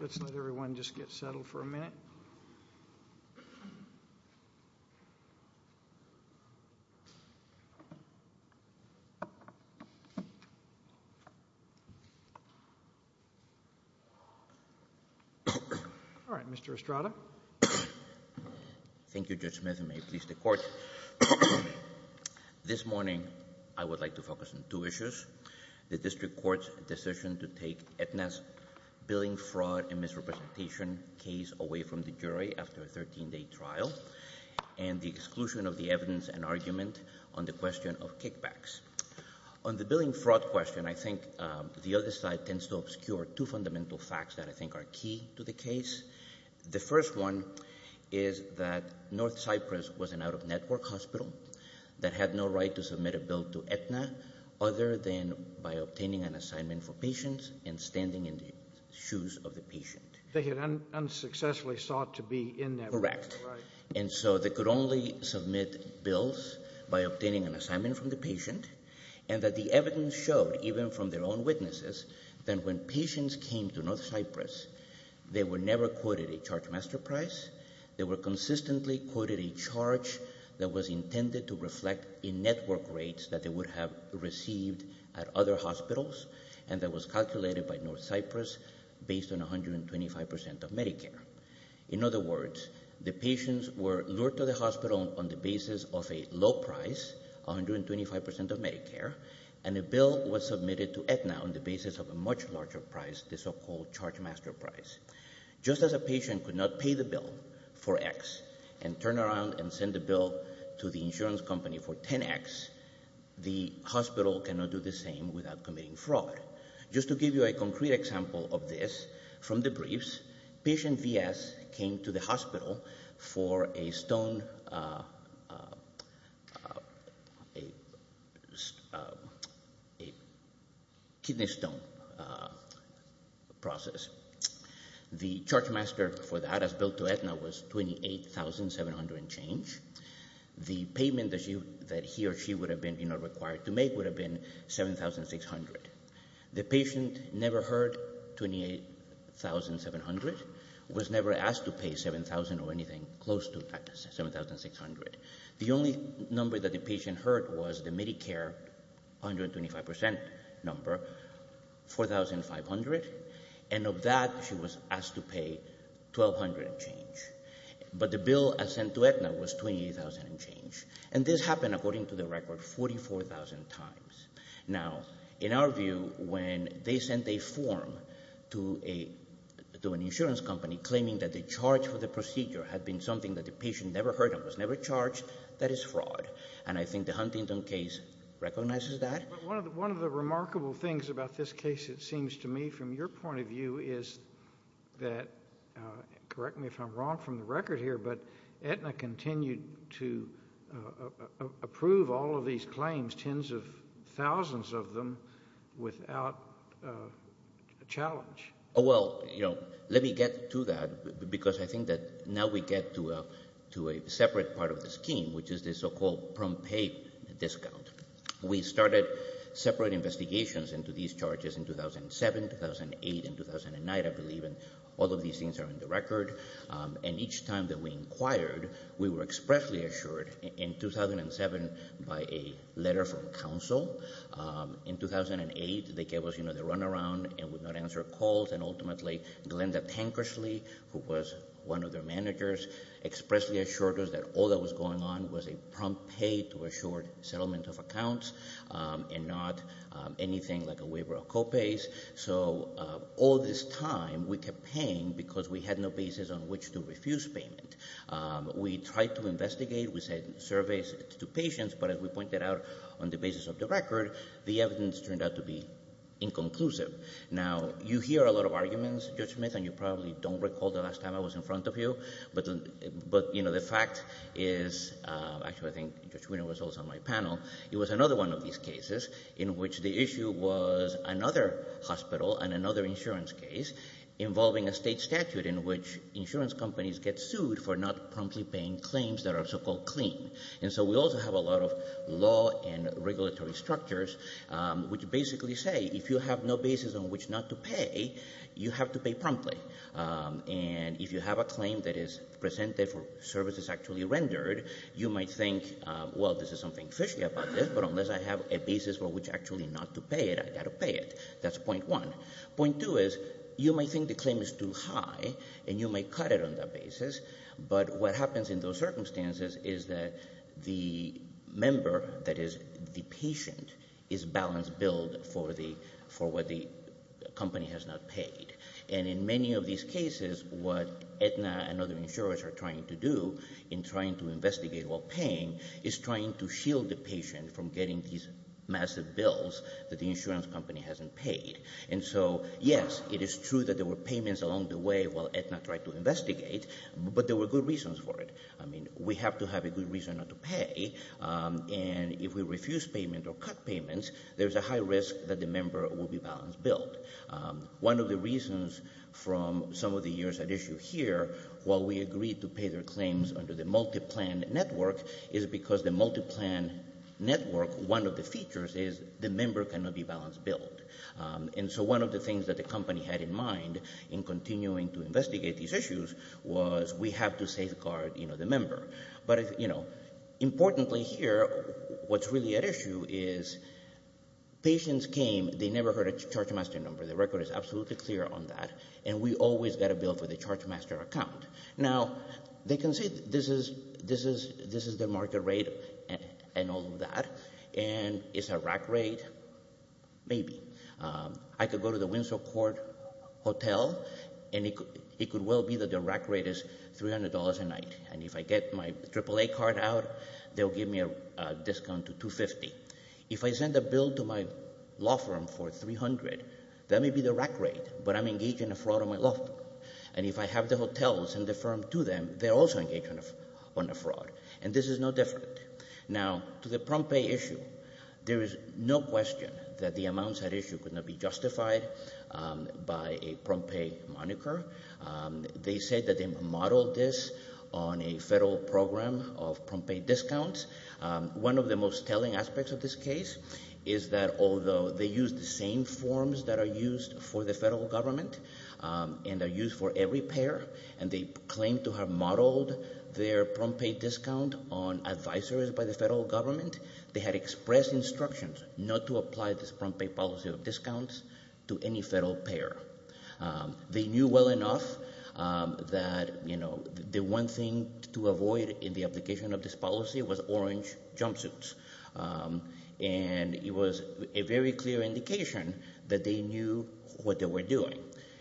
Let's let everyone just get settled for a minute. All right, Mr. Estrada. Thank you, Judge Smith, and may it please the Court. This morning I would like to focus on two issues. The district court's decision to take Aetna's billing fraud and misrepresentation case away from the jury after a 13-day trial, and the exclusion of the evidence and argument on the question of kickbacks. On the billing fraud question, I think the other side tends to obscure two fundamental facts that I think are key to the case. The first one is that North Cyprus was an out-of-network hospital that had no right to submit a bill to Aetna other than by obtaining an assignment for patients and standing in the shoes of the patient. They had unsuccessfully sought to be in that hospital, right? Correct. And so they could only submit bills by obtaining an assignment from the patient, and that the evidence showed, even from their own witnesses, that when patients came to North Cyprus, they were never quoted a charge master price. They were consistently quoted a charge that was intended to reflect in-network rates that they would have received at other hospitals, and that was calculated by North Cyprus based on 125% of Medicare. In other words, the patients were lured to the hospital on the basis of a low price, 125% of Medicare, and a bill was submitted to Aetna on the basis of a much larger price, the so-called charge master price. Just as a patient could not pay the bill for X and turn around and send the bill to the insurance company for 10X, the hospital cannot do the same without committing fraud. Just to give you a concrete example of this from the briefs, patient VS came to the hospital for a kidney stone process. The charge master for that, as billed to Aetna, was $28,700 and change. The payment that he or she would have been required to make would have been $7,600. The patient never heard $28,700, was never asked to pay $7,000 or anything close to that $7,600. The only number that the patient heard was the Medicare 125% number, $4,500, and of that she was asked to pay $1,200 and change. But the bill sent to Aetna was $28,000 and change. And this happened, according to the record, 44,000 times. Now, in our view, when they sent a form to an insurance company claiming that the charge for the procedure had been something that the patient never heard of, was never charged, that is fraud. And I think the Huntington case recognizes that. One of the remarkable things about this case, it seems to me, from your point of view is that, correct me if I'm wrong from the record here, but Aetna continued to approve all of these claims, tens of thousands of them, without a challenge. Well, let me get to that because I think that now we get to a separate part of the scheme, which is the so-called prompt pay discount. We started separate investigations into these charges in 2007, 2008, and 2009, I believe, and all of these things are in the record. And each time that we inquired, we were expressly assured in 2007 by a letter from counsel. In 2008, they gave us the runaround and would not answer calls. And ultimately, Glenda Tankersley, who was one of their managers, expressly assured us that all that was going on was a prompt pay to a short settlement of accounts and not anything like a waiver of co-pays. So all this time, we kept paying because we had no basis on which to refuse payment. We tried to investigate. We sent surveys to patients. But as we pointed out on the basis of the record, the evidence turned out to be inconclusive. Now, you hear a lot of arguments, Judge Smith, and you probably don't recall the last time I was in front of you, but, you know, the fact is actually I think Judge Winner was also on my panel. It was another one of these cases in which the issue was another hospital and another insurance case involving a state statute in which insurance companies get sued for not promptly paying claims that are so-called clean. And so we also have a lot of law and regulatory structures which basically say if you have no basis on which not to pay, you have to pay promptly. And if you have a claim that is presented for services actually rendered, you might think, well, this is something fishy about this, but unless I have a basis for which actually not to pay it, I've got to pay it. That's point one. Point two is you might think the claim is too high and you might cut it on that basis, but what happens in those circumstances is that the member, that is, the patient, is balance billed for what the company has not paid. And in many of these cases, what Aetna and other insurers are trying to do in trying to investigate while paying is trying to shield the patient from getting these massive bills that the insurance company hasn't paid. And so, yes, it is true that there were payments along the way while Aetna tried to investigate, but there were good reasons for it. I mean, we have to have a good reason not to pay, and if we refuse payment or cut payments, there's a high risk that the member will be balance billed. One of the reasons from some of the years at issue here, while we agreed to pay their claims under the multi-plan network, is because the multi-plan network, one of the features is the member cannot be balance billed. And so one of the things that the company had in mind in continuing to investigate these issues was we have to safeguard the member. But importantly here, what's really at issue is patients came, they never heard a charge master number. The record is absolutely clear on that, and we always got a bill for the charge master account. Now, they can say this is their market rate and all of that, and it's a rack rate, maybe. I could go to the Winsor Court Hotel, and it could well be that their rack rate is $300 a night. And if I get my AAA card out, they'll give me a discount to $250. If I send a bill to my law firm for $300, that may be their rack rate, but I'm engaging in a fraud on my law firm. And if I have the hotels and the firm to them, they're also engaged in a fraud, and this is no different. Now, to the prompt pay issue, there is no question that the amounts at issue could not be justified by a prompt pay moniker. They say that they modeled this on a federal program of prompt pay discounts. One of the most telling aspects of this case is that although they use the same forms that are used for the federal government and are used for every payer, and they claim to have modeled their prompt pay discount on advisories by the federal government, they had expressed instructions not to apply this prompt pay policy of discounts to any federal payer. They knew well enough that the one thing to avoid in the application of this policy was orange jumpsuits, and it was a very clear indication that they knew what they were doing.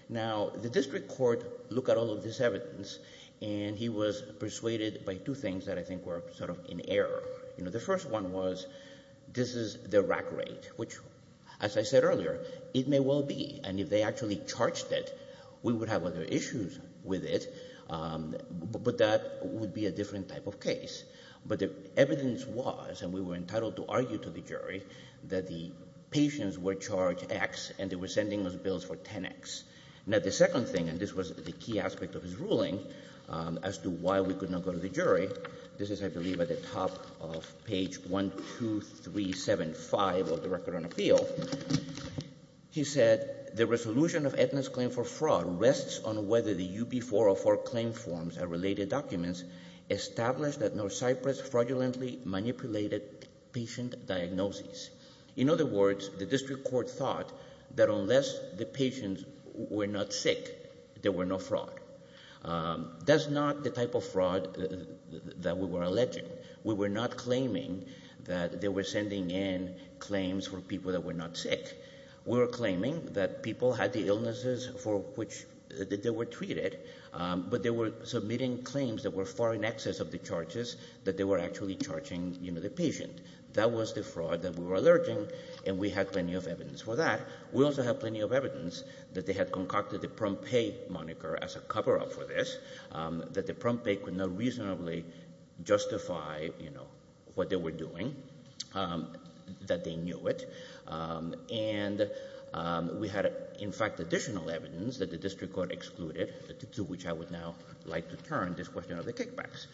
Now, the district court looked at all of this evidence, and he was persuaded by two things that I think were sort of in error. The first one was this is their rack rate, which, as I said earlier, it may well be, and if they actually charged it, we would have other issues with it, but that would be a different type of case. But the evidence was, and we were entitled to argue to the jury, that the patients were charged X, and they were sending us bills for 10X. Now, the second thing, and this was the key aspect of his ruling as to why we could not go to the jury, this is, I believe, at the top of page 1, 2, 3, 7, 5 of the record on appeal. He said, the resolution of Edna's claim for fraud rests on whether the UB404 claim forms and related documents establish that North Cyprus fraudulently manipulated patient diagnoses. In other words, the district court thought that unless the patients were not sick, there were no fraud. That's not the type of fraud that we were alleging. We were not claiming that they were sending in claims from people that were not sick. We were claiming that people had the illnesses for which they were treated, but they were submitting claims that were far in excess of the charges that they were actually charging the patient. That was the fraud that we were alleging, and we had plenty of evidence for that. We also have plenty of evidence that they had concocted the prompt pay moniker as a cover-up for this, that the prompt pay could not reasonably justify what they were doing, that they knew it. And we had, in fact, additional evidence that the district court excluded, to which I would now like to turn this question of the kickbacks.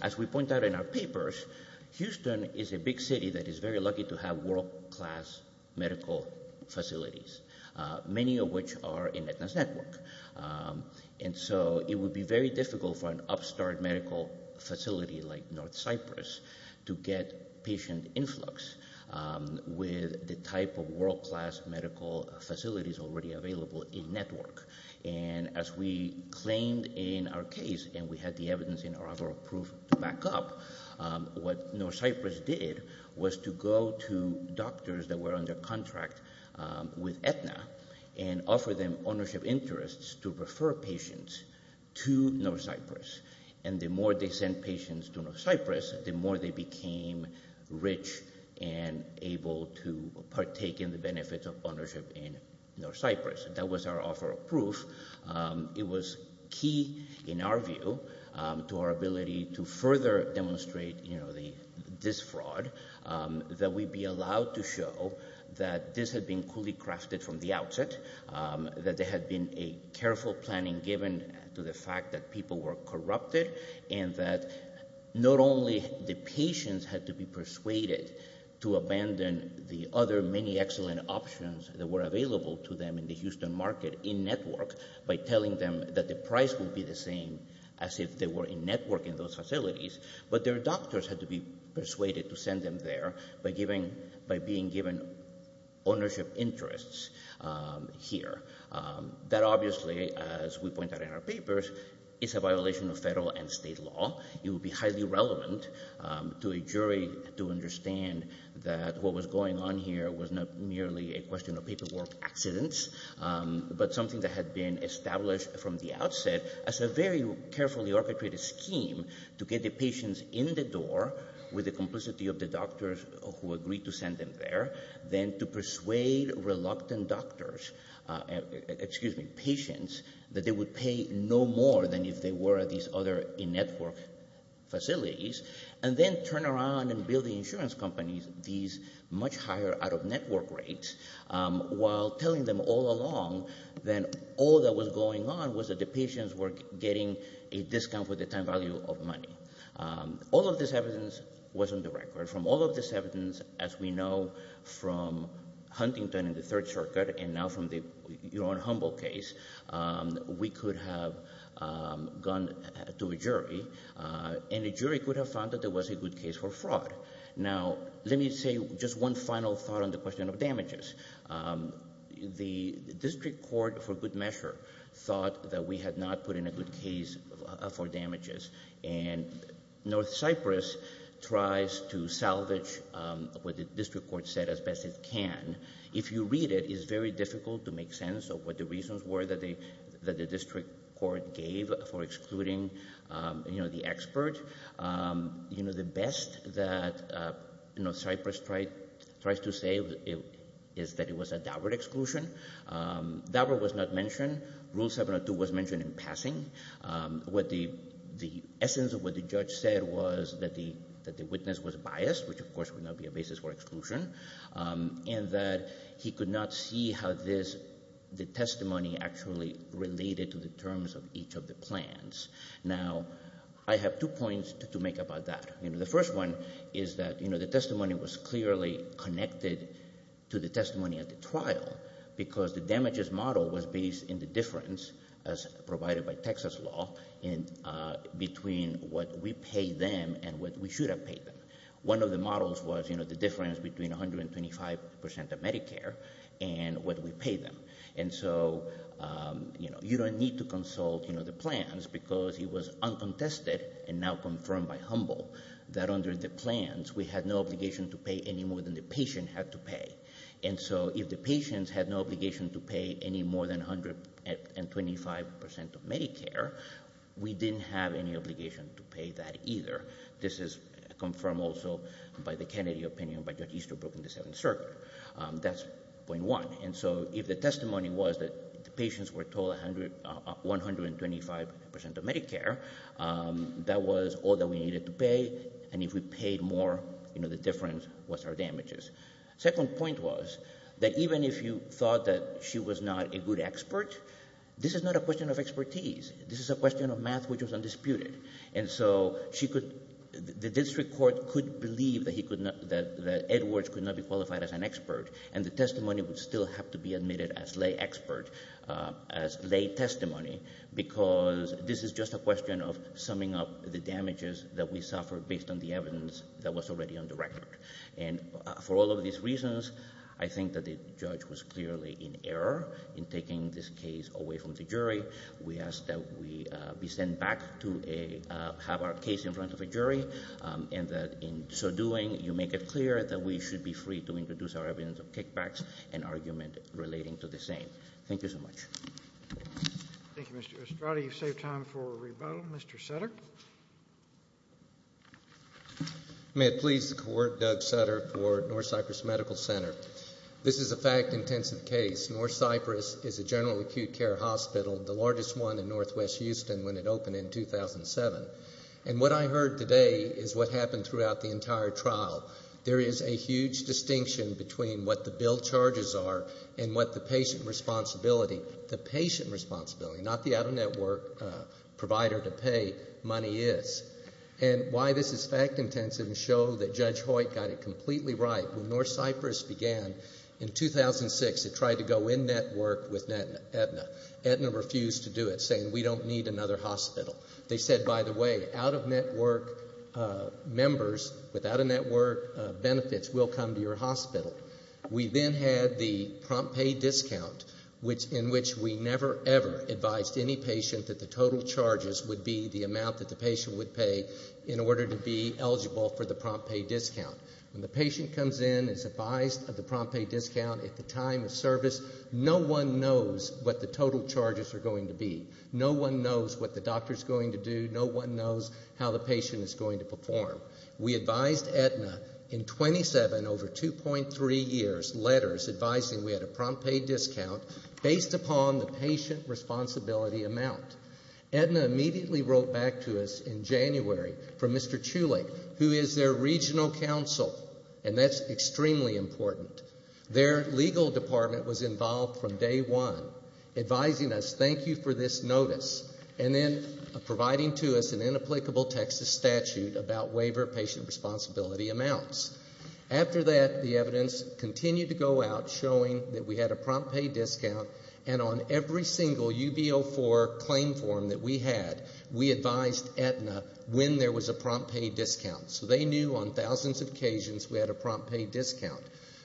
As we point out in our papers, Houston is a big city that is very lucky to have world-class medical facilities, many of which are in Edna's network. And so it would be very difficult for an upstart medical facility like North Cyprus to get patient influx with the type of world-class medical facilities already available in network. And as we claimed in our case, and we had the evidence in our offer of proof to back up, what North Cyprus did was to go to doctors that were under contract with Edna and offer them ownership interests to refer patients to North Cyprus. And the more they sent patients to North Cyprus, the more they became rich and able to partake in the benefits of ownership in North Cyprus. That was our offer of proof. It was key, in our view, to our ability to further demonstrate this fraud, that we be allowed to show that this had been coolly crafted from the outset, that there had been a careful planning given to the fact that people were corrupted, and that not only the patients had to be persuaded to abandon the other many excellent options that were available to them in the Houston market in network by telling them that the price would be the same as if they were in network in those facilities, but their doctors had to be persuaded to send them there by being given ownership interests here. That obviously, as we point out in our papers, is a violation of federal and state law. It would be highly relevant to a jury to understand that what was going on here was not merely a question of paperwork accidents, but something that had been established from the outset as a very carefully orchestrated scheme to get the patients in the door with the complicity of the doctors who agreed to send them there, then to persuade reluctant doctors, excuse me, patients, that they would pay no more than if they were at these other in-network facilities, and then turn around and bill the insurance companies these much higher out-of-network rates while telling them all along that all that was going on was that the patients were getting a discount for the time value of money. All of this evidence was on the record. From all of this evidence, as we know from Huntington and the Third Circuit, and now from your own Humboldt case, we could have gone to a jury, and a jury could have found that there was a good case for fraud. Now, let me say just one final thought on the question of damages. The district court, for good measure, thought that we had not put in a good case for damages, and North Cyprus tries to salvage what the district court said as best it can. If you read it, it's very difficult to make sense of what the reasons were that the district court gave for excluding the expert. The best that North Cyprus tries to say is that it was a Daubert exclusion. Daubert was not mentioned. Rule 702 was mentioned in passing. The essence of what the judge said was that the witness was biased, which of course would not be a basis for exclusion, and that he could not see how the testimony actually related to the terms of each of the plans. Now, I have two points to make about that. The first one is that the testimony was clearly connected to the testimony at the trial because the damages model was based in the difference, as provided by Texas law, between what we pay them and what we should have paid them. One of the models was the difference between 125% of Medicare and what we pay them. And so you don't need to consult the plans because it was uncontested and now confirmed by Humble that under the plans, we had no obligation to pay any more than the patient had to pay. And so if the patients had no obligation to pay any more than 125% of Medicare, we didn't have any obligation to pay that either. This is confirmed also by the Kennedy opinion by Judge Easterbrook in the Seventh Circuit. That's point one. And so if the testimony was that the patients were told 125% of Medicare, that was all that we needed to pay, and if we paid more, the difference was our damages. The second point was that even if you thought that she was not a good expert, this is not a question of expertise. This is a question of math, which was undisputed. And so the district court could believe that Edwards could not be qualified as an expert, and the testimony would still have to be admitted as lay expert, as lay testimony, because this is just a question of summing up the damages that we suffered based on the evidence that was already on the record. And for all of these reasons, I think that the judge was clearly in error in taking this case away from the jury. We ask that we be sent back to have our case in front of a jury, and that in so doing you make it clear that we should be free to introduce our evidence of kickbacks and argument relating to the same. Thank you so much. Thank you, Mr. Estrada. You've saved time for a rebuttal. Mr. Sutter. May it please the Court, Doug Sutter for North Cyprus Medical Center. This is a fact-intensive case. North Cyprus is a general acute care hospital, the largest one in northwest Houston, when it opened in 2007. And what I heard today is what happened throughout the entire trial. There is a huge distinction between what the bill charges are and what the patient responsibility, the patient responsibility, not the out-of-network provider to pay money is. And why this is fact-intensive and show that Judge Hoyt got it completely right, when North Cyprus began in 2006, it tried to go in-network with Aetna. Aetna refused to do it, saying, we don't need another hospital. They said, by the way, out-of-network members without in-network benefits will come to your hospital. We then had the prompt pay discount in which we never, ever advised any patient that the total charges would be the amount that the patient would pay in order to be eligible for the prompt pay discount. When the patient comes in and is advised of the prompt pay discount at the time of service, no one knows what the total charges are going to be. No one knows what the doctor is going to do. No one knows how the patient is going to perform. We advised Aetna in 27 over 2.3 years letters advising we had a prompt pay discount based upon the patient responsibility amount. Aetna immediately wrote back to us in January from Mr. Chulik, who is their regional counsel, and that's extremely important. Their legal department was involved from day one, advising us, thank you for this notice, and then providing to us an inapplicable Texas statute about waiver patient responsibility amounts. After that, the evidence continued to go out showing that we had a prompt pay discount and on every single UB04 claim form that we had, we advised Aetna when there was a prompt pay discount. So they knew on thousands of occasions we had a prompt pay discount.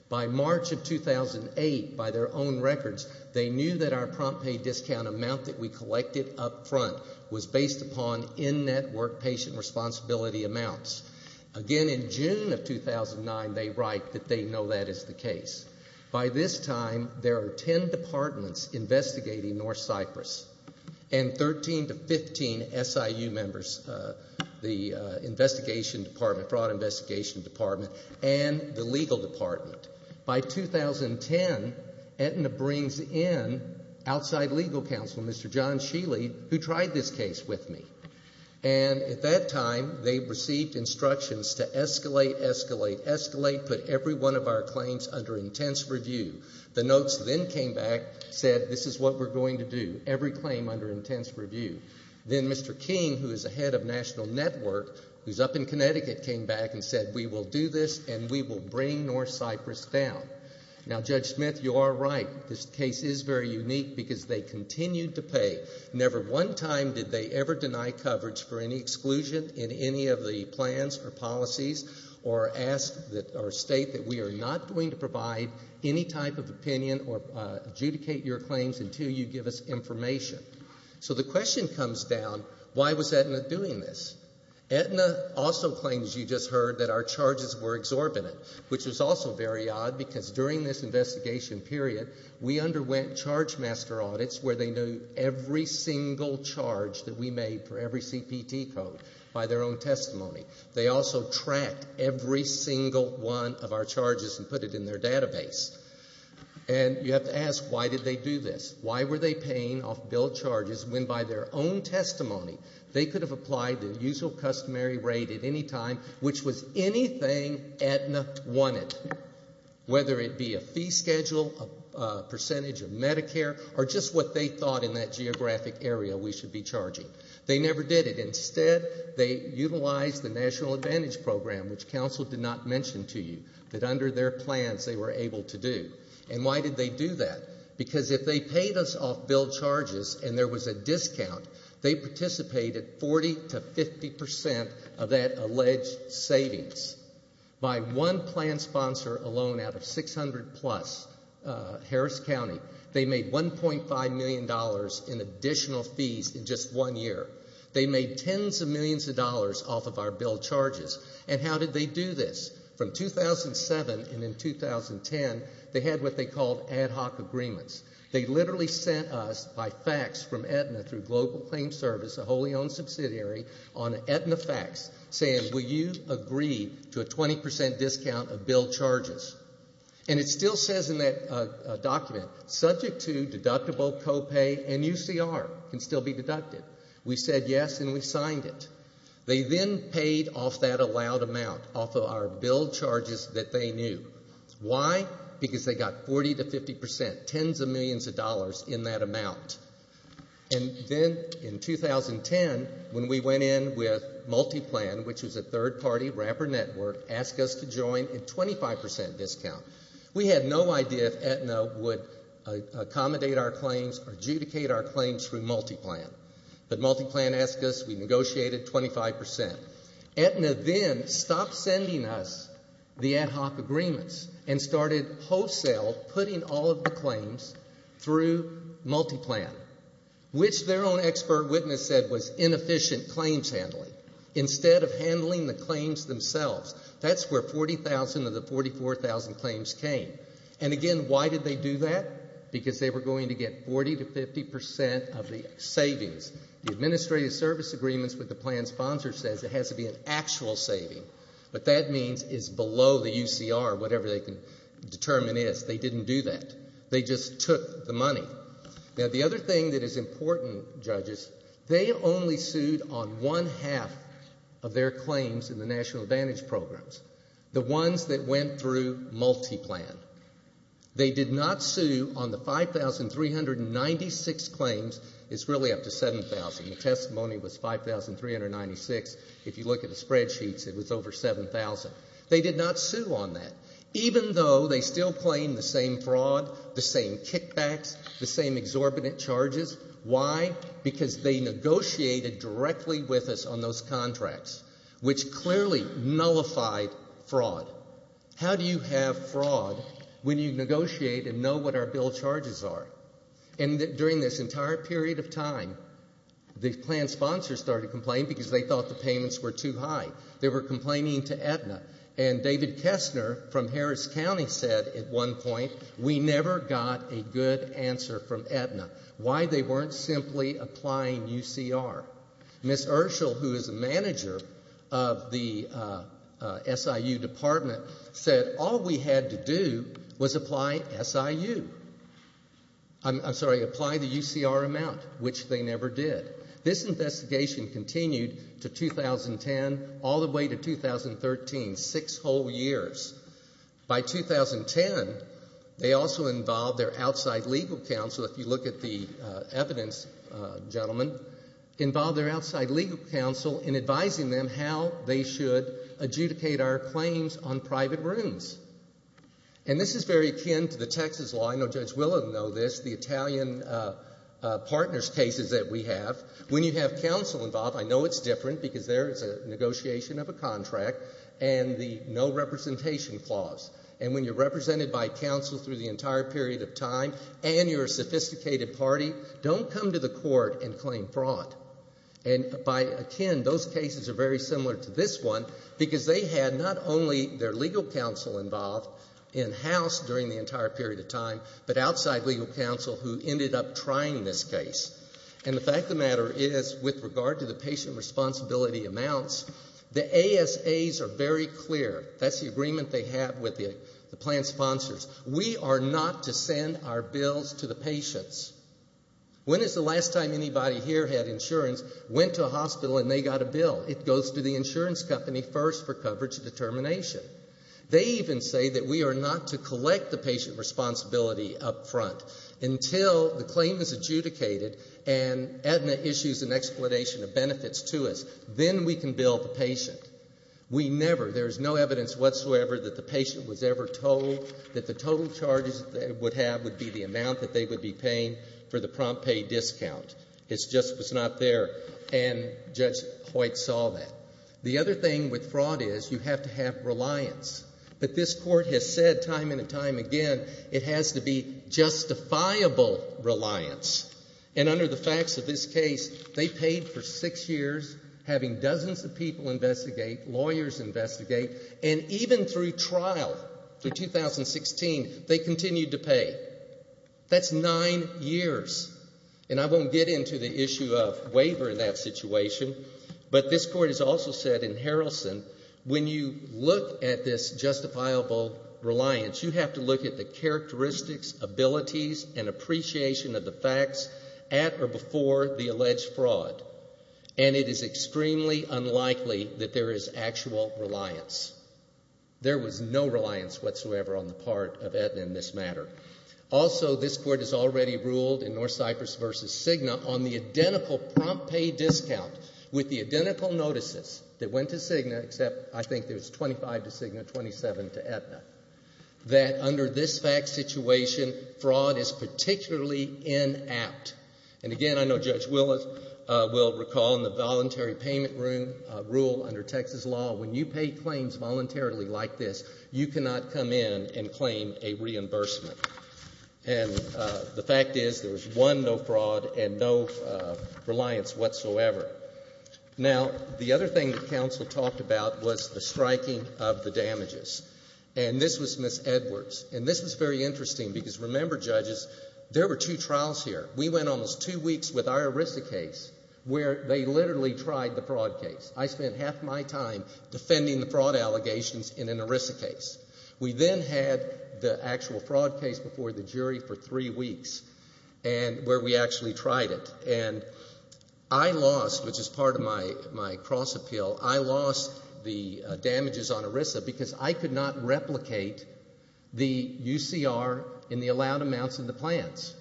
By March of 2008, by their own records, they knew that our prompt pay discount amount that we collected up front was based upon in-net work patient responsibility amounts. Again, in June of 2009, they write that they know that is the case. By this time, there are 10 departments investigating North Cyprus and 13 to 15 SIU members, the investigation department, fraud investigation department, and the legal department. By 2010, Aetna brings in outside legal counsel, Mr. John Shealy, who tried this case with me. And at that time, they received instructions to escalate, escalate, escalate, put every one of our claims under intense review. The notes then came back, said this is what we're going to do, every claim under intense review. Then Mr. King, who is the head of National Network, who's up in Connecticut, came back and said we will do this and we will bring North Cyprus down. Now, Judge Smith, you are right. This case is very unique because they continued to pay. Never one time did they ever deny coverage for any exclusion in any of the plans or policies or state that we are not going to provide any type of opinion or adjudicate your claims until you give us information. So the question comes down, why was Aetna doing this? Aetna also claims, you just heard, that our charges were exorbitant, which was also very odd because during this investigation period, we underwent charge master audits where they knew every single charge that we made for every CPT code by their own testimony. They also tracked every single one of our charges and put it in their database. And you have to ask, why did they do this? Why were they paying off bill charges when by their own testimony, they could have applied the usual customary rate at any time, which was anything Aetna wanted, whether it be a fee schedule, a percentage of Medicare, or just what they thought in that geographic area we should be charging. They never did it. Instead, they utilized the National Advantage Program, which counsel did not mention to you, that under their plans they were able to do. And why did they do that? Because if they paid us off bill charges and there was a discount, they participated 40 to 50 percent of that alleged savings. By one plan sponsor alone out of 600 plus, Harris County, they made $1.5 million in additional fees in just one year. They made tens of millions of dollars off of our bill charges. And how did they do this? From 2007 and in 2010, they had what they called ad hoc agreements. They literally sent us by fax from Aetna through Global Claim Service, a wholly owned subsidiary, on Aetna fax saying, will you agree to a 20 percent discount of bill charges? And it still says in that document, subject to deductible copay, and UCR can still be deducted. We said yes and we signed it. They then paid off that allowed amount off of our bill charges that they knew. Why? Because they got 40 to 50 percent, tens of millions of dollars in that amount. And then in 2010, when we went in with Multiplan, which was a third party wrapper network, asked us to join a 25 percent discount. We had no idea if Aetna would accommodate our claims or adjudicate our claims through Multiplan. But Multiplan asked us, we negotiated 25 percent. Aetna then stopped sending us the ad hoc agreements and started wholesale putting all of the claims through Multiplan, which their own expert witness said was inefficient claims handling. Instead of handling the claims themselves, that's where 40,000 of the 44,000 claims came. And again, why did they do that? Because they were going to get 40 to 50 percent of the savings. The administrative service agreements with the plan sponsor says it has to be an actual saving. What that means is below the UCR, whatever they can determine is. They didn't do that. They just took the money. Now, the other thing that is important, judges, they only sued on one half of their claims in the National Advantage programs, the ones that went through Multiplan. They did not sue on the 5,396 claims. It's really up to 7,000. The testimony was 5,396. If you look at the spreadsheets, it was over 7,000. They did not sue on that, even though they still claim the same fraud, the same kickbacks, the same exorbitant charges. Why? Because they negotiated directly with us on those contracts, which clearly nullified fraud. How do you have fraud when you negotiate and know what our bill charges are? And during this entire period of time, the plan sponsors started complaining because they thought the payments were too high. They were complaining to Aetna. And David Kessner from Harris County said at one point, we never got a good answer from Aetna. Why? They weren't simply applying UCR. Ms. Urschel, who is a manager of the SIU department, said all we had to do was apply SIU. I'm sorry, apply the UCR amount, which they never did. This investigation continued to 2010 all the way to 2013, six whole years. By 2010, they also involved their outside legal counsel, if you look at the evidence, gentlemen, involved their outside legal counsel in advising them how they should adjudicate our claims on private rooms. And this is very akin to the Texas law. I know Judge Willen knows this, the Italian partners cases that we have. When you have counsel involved, I know it's different because there is a negotiation of a contract and the no representation clause. And when you're represented by counsel through the entire period of time and you're a sophisticated party, don't come to the court and claim fraud. And by akin, those cases are very similar to this one because they had not only their legal counsel involved in-house during the entire period of time, but outside legal counsel who ended up trying this case. And the fact of the matter is, with regard to the patient responsibility amounts, the ASAs are very clear. That's the agreement they have with the plan sponsors. We are not to send our bills to the patients. When is the last time anybody here had insurance, went to a hospital and they got a bill? It goes to the insurance company first for coverage determination. They even say that we are not to collect the patient responsibility up front until the claim is adjudicated and Aetna issues an explanation of benefits to us. Then we can bill the patient. We never, there is no evidence whatsoever that the patient was ever told that the total charges that they would have would be the amount that they would be paying for the prompt pay discount. It just was not there, and Judge Hoyt saw that. The other thing with fraud is you have to have reliance. But this Court has said time and time again it has to be justifiable reliance. And under the facts of this case, they paid for six years, having dozens of people investigate, lawyers investigate, and even through trial, through 2016, they continued to pay. That's nine years. And I won't get into the issue of waiver in that situation, but this Court has also said in Harrelson, when you look at this justifiable reliance, you have to look at the characteristics, abilities, and appreciation of the facts at or before the alleged fraud. And it is extremely unlikely that there is actual reliance. There was no reliance whatsoever on the part of Aetna in this matter. Also, this Court has already ruled in North Cyprus v. Cigna on the identical prompt pay discount with the identical notices that went to Cigna, except I think there's 25 to Cigna, 27 to Aetna, that under this fact situation, fraud is particularly inapt. And, again, I know Judge Willis will recall in the voluntary payment rule under Texas law, when you pay claims voluntarily like this, you cannot come in and claim a reimbursement. And the fact is there was one no fraud and no reliance whatsoever. Now, the other thing that counsel talked about was the striking of the damages. And this was Ms. Edwards. And this was very interesting because, remember, judges, there were two trials here. We went almost two weeks with our ERISA case where they literally tried the fraud case. I spent half my time defending the fraud allegations in an ERISA case. We then had the actual fraud case before the jury for three weeks where we actually tried it. And I lost, which is part of my cross-appeal, I lost the damages on ERISA because I could not replicate the UCR in the allowed amounts of the plans.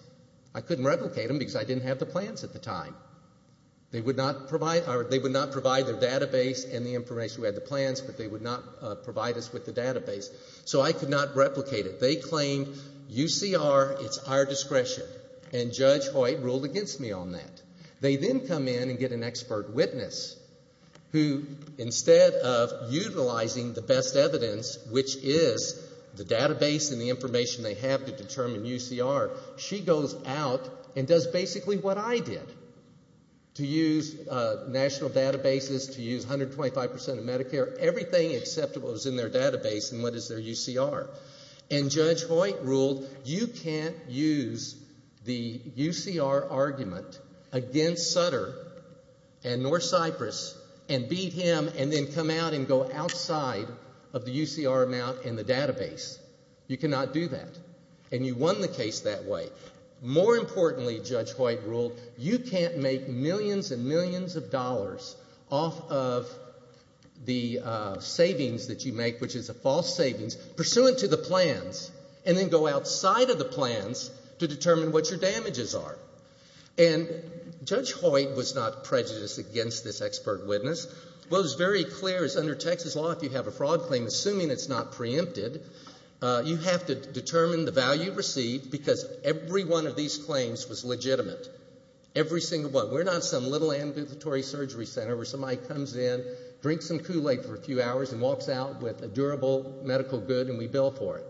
I couldn't replicate them because I didn't have the plans at the time. They would not provide their database and the information we had the plans, but they would not provide us with the database. So I could not replicate it. They claimed UCR, it's our discretion. And Judge Hoyt ruled against me on that. They then come in and get an expert witness who, instead of utilizing the best evidence, which is the database and the information they have to determine UCR, she goes out and does basically what I did to use national databases, to use 125% of Medicare, everything except what was in their database and what is their UCR. And Judge Hoyt ruled you can't use the UCR argument against Sutter and North Cyprus and beat him and then come out and go outside of the UCR amount and the database. You cannot do that. And you won the case that way. More importantly, Judge Hoyt ruled, you can't make millions and millions of dollars off of the savings that you make, which is a false savings, pursuant to the plans, and then go outside of the plans to determine what your damages are. And Judge Hoyt was not prejudiced against this expert witness. What was very clear is under Texas law, if you have a fraud claim, assuming it's not preempted, you have to determine the value received because every one of these claims was legitimate. Every single one. We're not some little ambulatory surgery center where somebody comes in, drinks some Kool-Aid for a few hours and walks out with a durable medical good and we bill for it.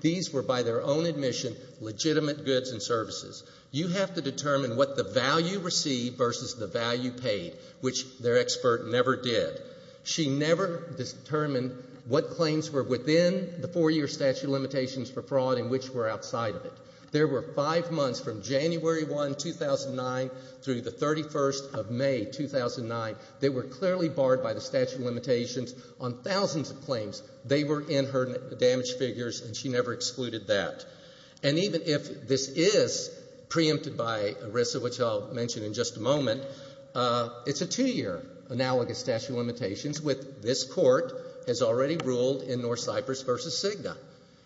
These were, by their own admission, legitimate goods and services. You have to determine what the value received versus the value paid, which their expert never did. She never determined what claims were within the four-year statute of limitations for fraud and which were outside of it. There were five months from January 1, 2009, through the 31st of May, 2009, that were clearly barred by the statute of limitations on thousands of claims. They were in her damage figures, and she never excluded that. And even if this is preempted by ERISA, which I'll mention in just a moment, it's a two-year analogous statute of limitations which this court has already ruled in North Cyprus v. CIGNA.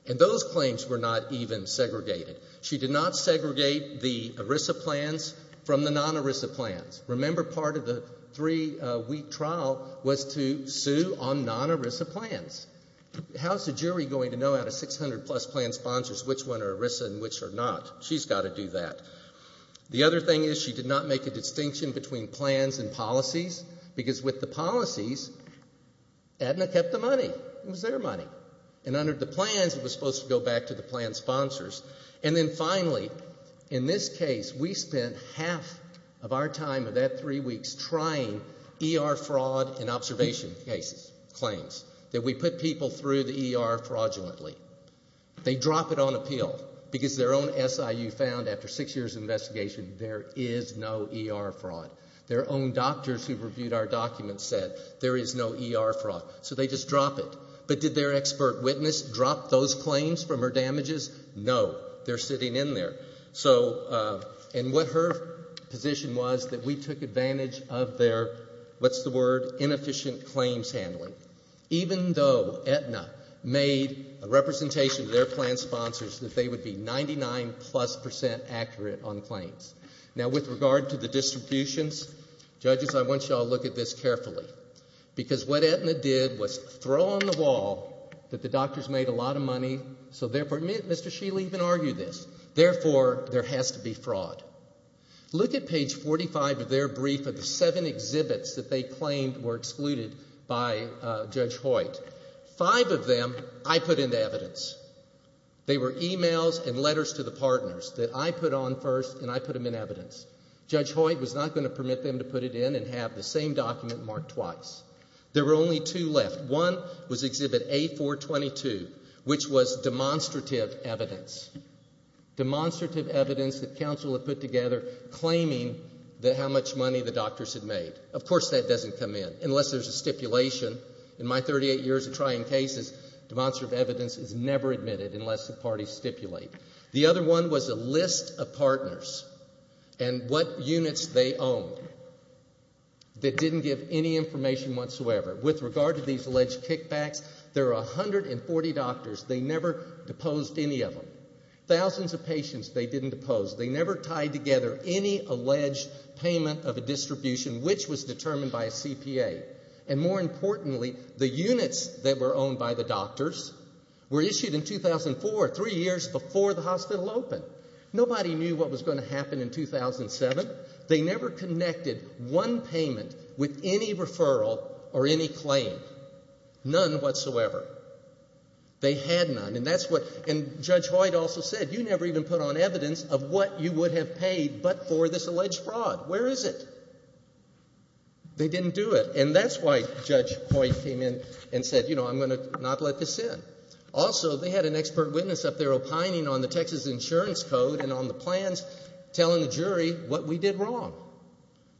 And those claims were not even segregated. She did not segregate the ERISA plans from the non-ERISA plans. Remember, part of the three-week trial was to sue on non-ERISA plans. How's the jury going to know out of 600-plus plan sponsors which one are ERISA and which are not? She's got to do that. The other thing is she did not make a distinction between plans and policies, because with the policies, ADNA kept the money. It was their money. And under the plans, it was supposed to go back to the plan sponsors. And then finally, in this case, we spent half of our time of that three weeks trying ER fraud and observation cases, claims, that we put people through the ER fraudulently. They drop it on appeal, because their own SIU found after six years of investigation there is no ER fraud. Their own doctors who reviewed our documents said there is no ER fraud. So they just drop it. But did their expert witness drop those claims from her damages? No. They're sitting in there. And what her position was that we took advantage of their, what's the word, inefficient claims handling. Even though ADNA made a representation to their plan sponsors that they would be 99-plus percent accurate on claims. Now, with regard to the distributions, judges, I want you all to look at this carefully. Because what ADNA did was throw on the wall that the doctors made a lot of money, so therefore, Mr. Shealy even argued this, therefore, there has to be fraud. Look at page 45 of their brief of the seven exhibits that they claimed were excluded by Judge Hoyt. Five of them I put into evidence. They were e-mails and letters to the partners that I put on first and I put them in evidence. Judge Hoyt was not going to permit them to put it in and have the same document marked twice. There were only two left. One was exhibit A422, which was demonstrative evidence. Demonstrative evidence that counsel had put together claiming how much money the doctors had made. Of course that doesn't come in unless there's a stipulation. In my 38 years of trying cases, demonstrative evidence is never admitted unless the parties stipulate. The other one was a list of partners and what units they owned that didn't give any information whatsoever. With regard to these alleged kickbacks, there are 140 doctors. They never deposed any of them. Thousands of patients they didn't depose. They never tied together any alleged payment of a distribution which was determined by a CPA. And more importantly, the units that were owned by the doctors were issued in 2004, three years before the hospital opened. Nobody knew what was going to happen in 2007. They never connected one payment with any referral or any claim. None whatsoever. They had none. And Judge Hoyt also said, you never even put on evidence of what you would have paid but for this alleged fraud. Where is it? They didn't do it. And that's why Judge Hoyt came in and said, you know, I'm going to not let this in. Also, they had an expert witness up there opining on the Texas Insurance Code and on the plans telling the jury what we did wrong.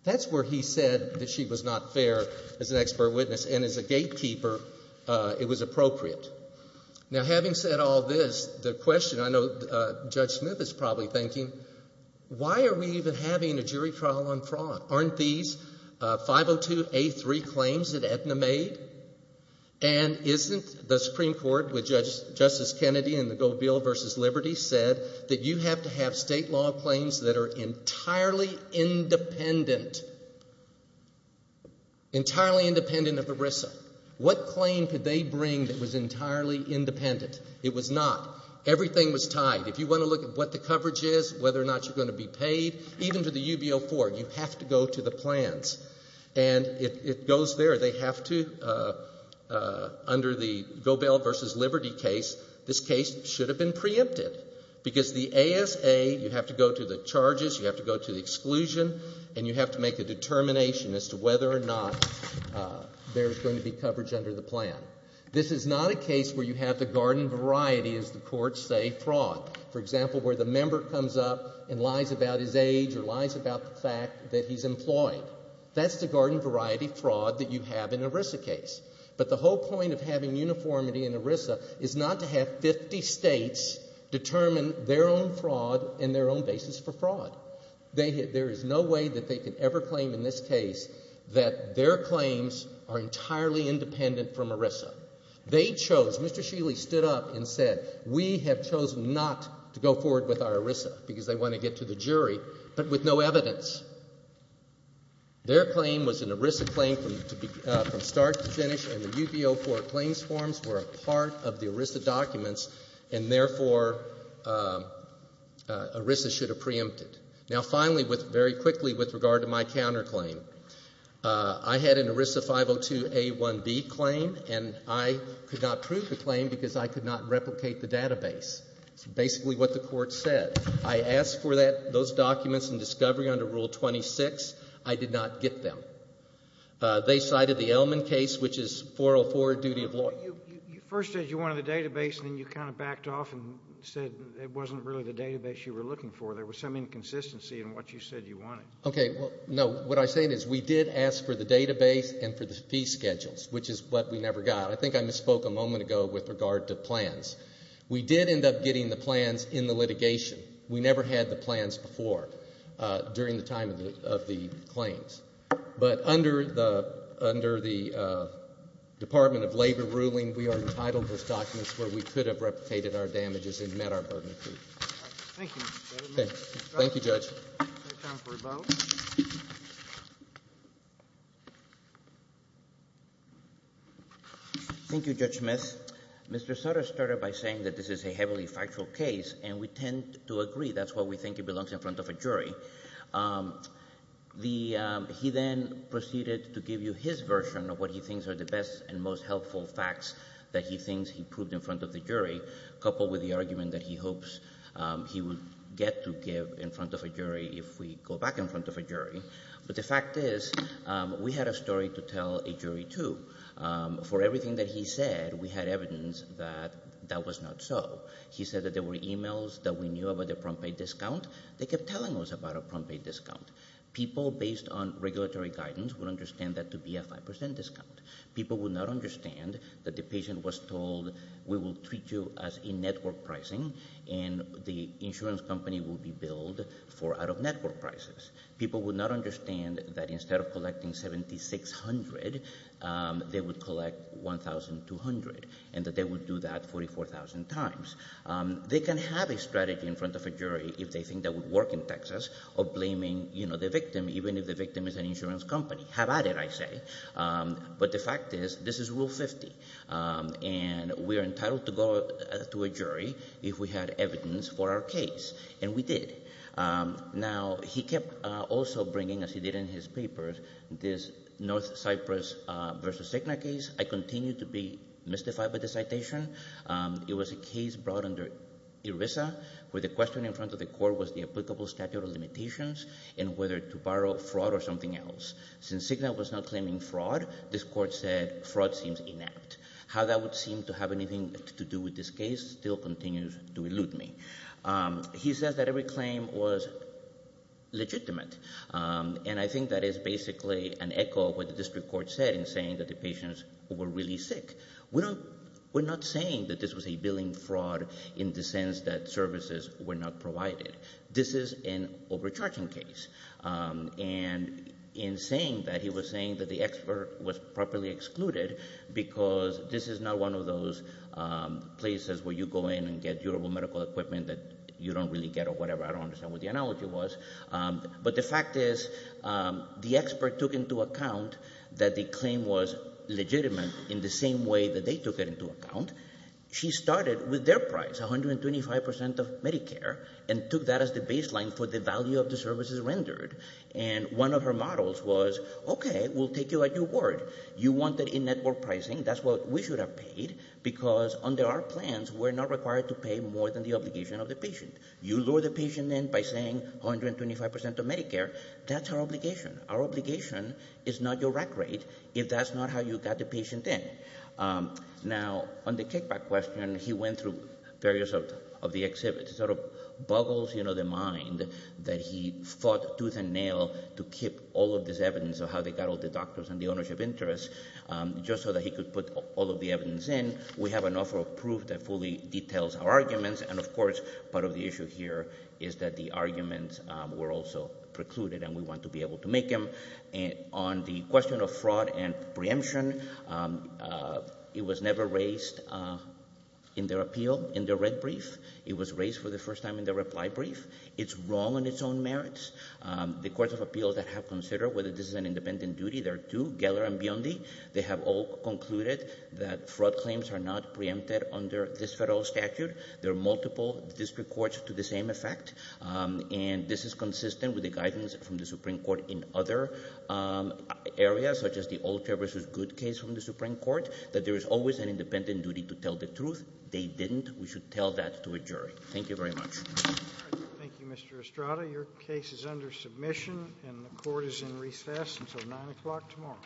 That's where he said that she was not fair as an expert witness, and as a gatekeeper, it was appropriate. Now, having said all this, the question I know Judge Smith is probably thinking, why are we even having a jury trial on fraud? Aren't these 502A3 claims that Aetna made? And isn't the Supreme Court, which Justice Kennedy in the Go Bill vs. Liberty said, that you have to have state law claims that are entirely independent? Entirely independent of ERISA. What claim could they bring that was entirely independent? It was not. Everything was tied. If you want to look at what the coverage is, whether or not you're going to be paid, even to the UB04, you have to go to the plans. And it goes there. They have to, under the Go Bill vs. Liberty case, this case should have been preempted. Because the ASA, you have to go to the charges, you have to go to the exclusion, and you have to make a determination as to whether or not there's going to be coverage under the plan. This is not a case where you have the garden variety, as the courts say, fraud. For example, where the member comes up and lies about his age or lies about the fact that he's employed. That's the garden variety fraud that you have in an ERISA case. But the whole point of having uniformity in ERISA is not to have 50 states determine their own fraud and their own basis for fraud. There is no way that they could ever claim in this case that their claims are entirely independent from ERISA. They chose, Mr. Sheely stood up and said, we have chosen not to go forward with our ERISA because they want to get to the jury, but with no evidence. Their claim was an ERISA claim from start to finish, and the UB-04 claims forms were a part of the ERISA documents, and therefore ERISA should have preempted. Now, finally, very quickly with regard to my counterclaim. I had an ERISA 502A1B claim, and I could not prove the claim because I could not replicate the database. It's basically what the court said. I asked for those documents in discovery under Rule 26. I did not get them. They cited the Ellman case, which is 404, duty of law. You first said you wanted the database, and then you kind of backed off and said it wasn't really the database you were looking for. There was some inconsistency in what you said you wanted. Okay. No, what I'm saying is we did ask for the database and for the fee schedules, which is what we never got. I think I misspoke a moment ago with regard to plans. We did end up getting the plans in the litigation. We never had the plans before during the time of the claims. But under the Department of Labor ruling, we are entitled to those documents where we could have replicated our damages and met our burden of proof. Thank you. Okay. Thank you, Judge. We have time for a vote. Thank you, Judge Smith. Mr. Sutter started by saying that this is a heavily factual case, and we tend to agree that's what we think it belongs in front of a jury. He then proceeded to give you his version of what he thinks are the best and most helpful facts that he thinks he proved in front of the jury, coupled with the argument that he hopes he would get to give in front of a jury if we go back in front of a jury. But the fact is we had a story to tell a jury, too. For everything that he said, we had evidence that that was not so. He said that there were e-mails that we knew about the prompt pay discount. They kept telling us about a prompt pay discount. People based on regulatory guidance would understand that to be a 5% discount. People would not understand that the patient was told we will treat you as in-network pricing and the insurance company will be billed for out-of-network prices. People would not understand that instead of collecting $7,600, they would collect $1,200, and that they would do that 44,000 times. They can have a strategy in front of a jury if they think that would work in Texas of blaming the victim, even if the victim is an insurance company. Have at it, I say. But the fact is this is Rule 50, and we are entitled to go to a jury if we had evidence for our case, and we did. Now, he kept also bringing, as he did in his papers, this North Cyprus v. Cigna case. I continue to be mystified by the citation. It was a case brought under ERISA where the question in front of the court was the applicable statute of limitations and whether to borrow fraud or something else. Since Cigna was not claiming fraud, this court said fraud seems inept. How that would seem to have anything to do with this case still continues to elude me. He says that every claim was legitimate, and I think that is basically an echo of what the district court said in saying that the patients were really sick. We're not saying that this was a billing fraud in the sense that services were not provided. This is an overcharging case. And in saying that, he was saying that the expert was properly excluded because this is not one of those places where you go in and get durable medical equipment that you don't really get or whatever. I don't understand what the analogy was. But the fact is the expert took into account that the claim was legitimate in the same way that they took it into account. She started with their price, 125% of Medicare, and took that as the baseline for the value of the services rendered. And one of her models was, okay, we'll take you at your word. You wanted in-network pricing. That's what we should have paid because under our plans, we're not required to pay more than the obligation of the patient. You lure the patient in by saying 125% of Medicare. That's our obligation. Our obligation is not your rack rate if that's not how you got the patient in. Now, on the kickback question, he went through various of the exhibits. It sort of boggles the mind that he fought tooth and nail to keep all of this evidence of how they got all the doctors and the ownership interest just so that he could put all of the evidence in. We have an offer of proof that fully details our arguments. And, of course, part of the issue here is that the arguments were also precluded, and we want to be able to make them. On the question of fraud and preemption, it was never raised in their appeal, in their red brief. It was raised for the first time in their reply brief. It's wrong in its own merits. The courts of appeal that have considered whether this is an independent duty, there are two, Geller and Biondi. They have all concluded that fraud claims are not preempted under this federal statute. There are multiple district courts to the same effect. And this is consistent with the guidance from the Supreme Court in other areas, such as the Old Fair v. Good case from the Supreme Court, that there is always an independent duty to tell the truth. They didn't. We should tell that to a jury. Thank you very much. Thank you, Mr. Estrada. Your case is under submission, and the court is in recess until 9 o'clock tomorrow.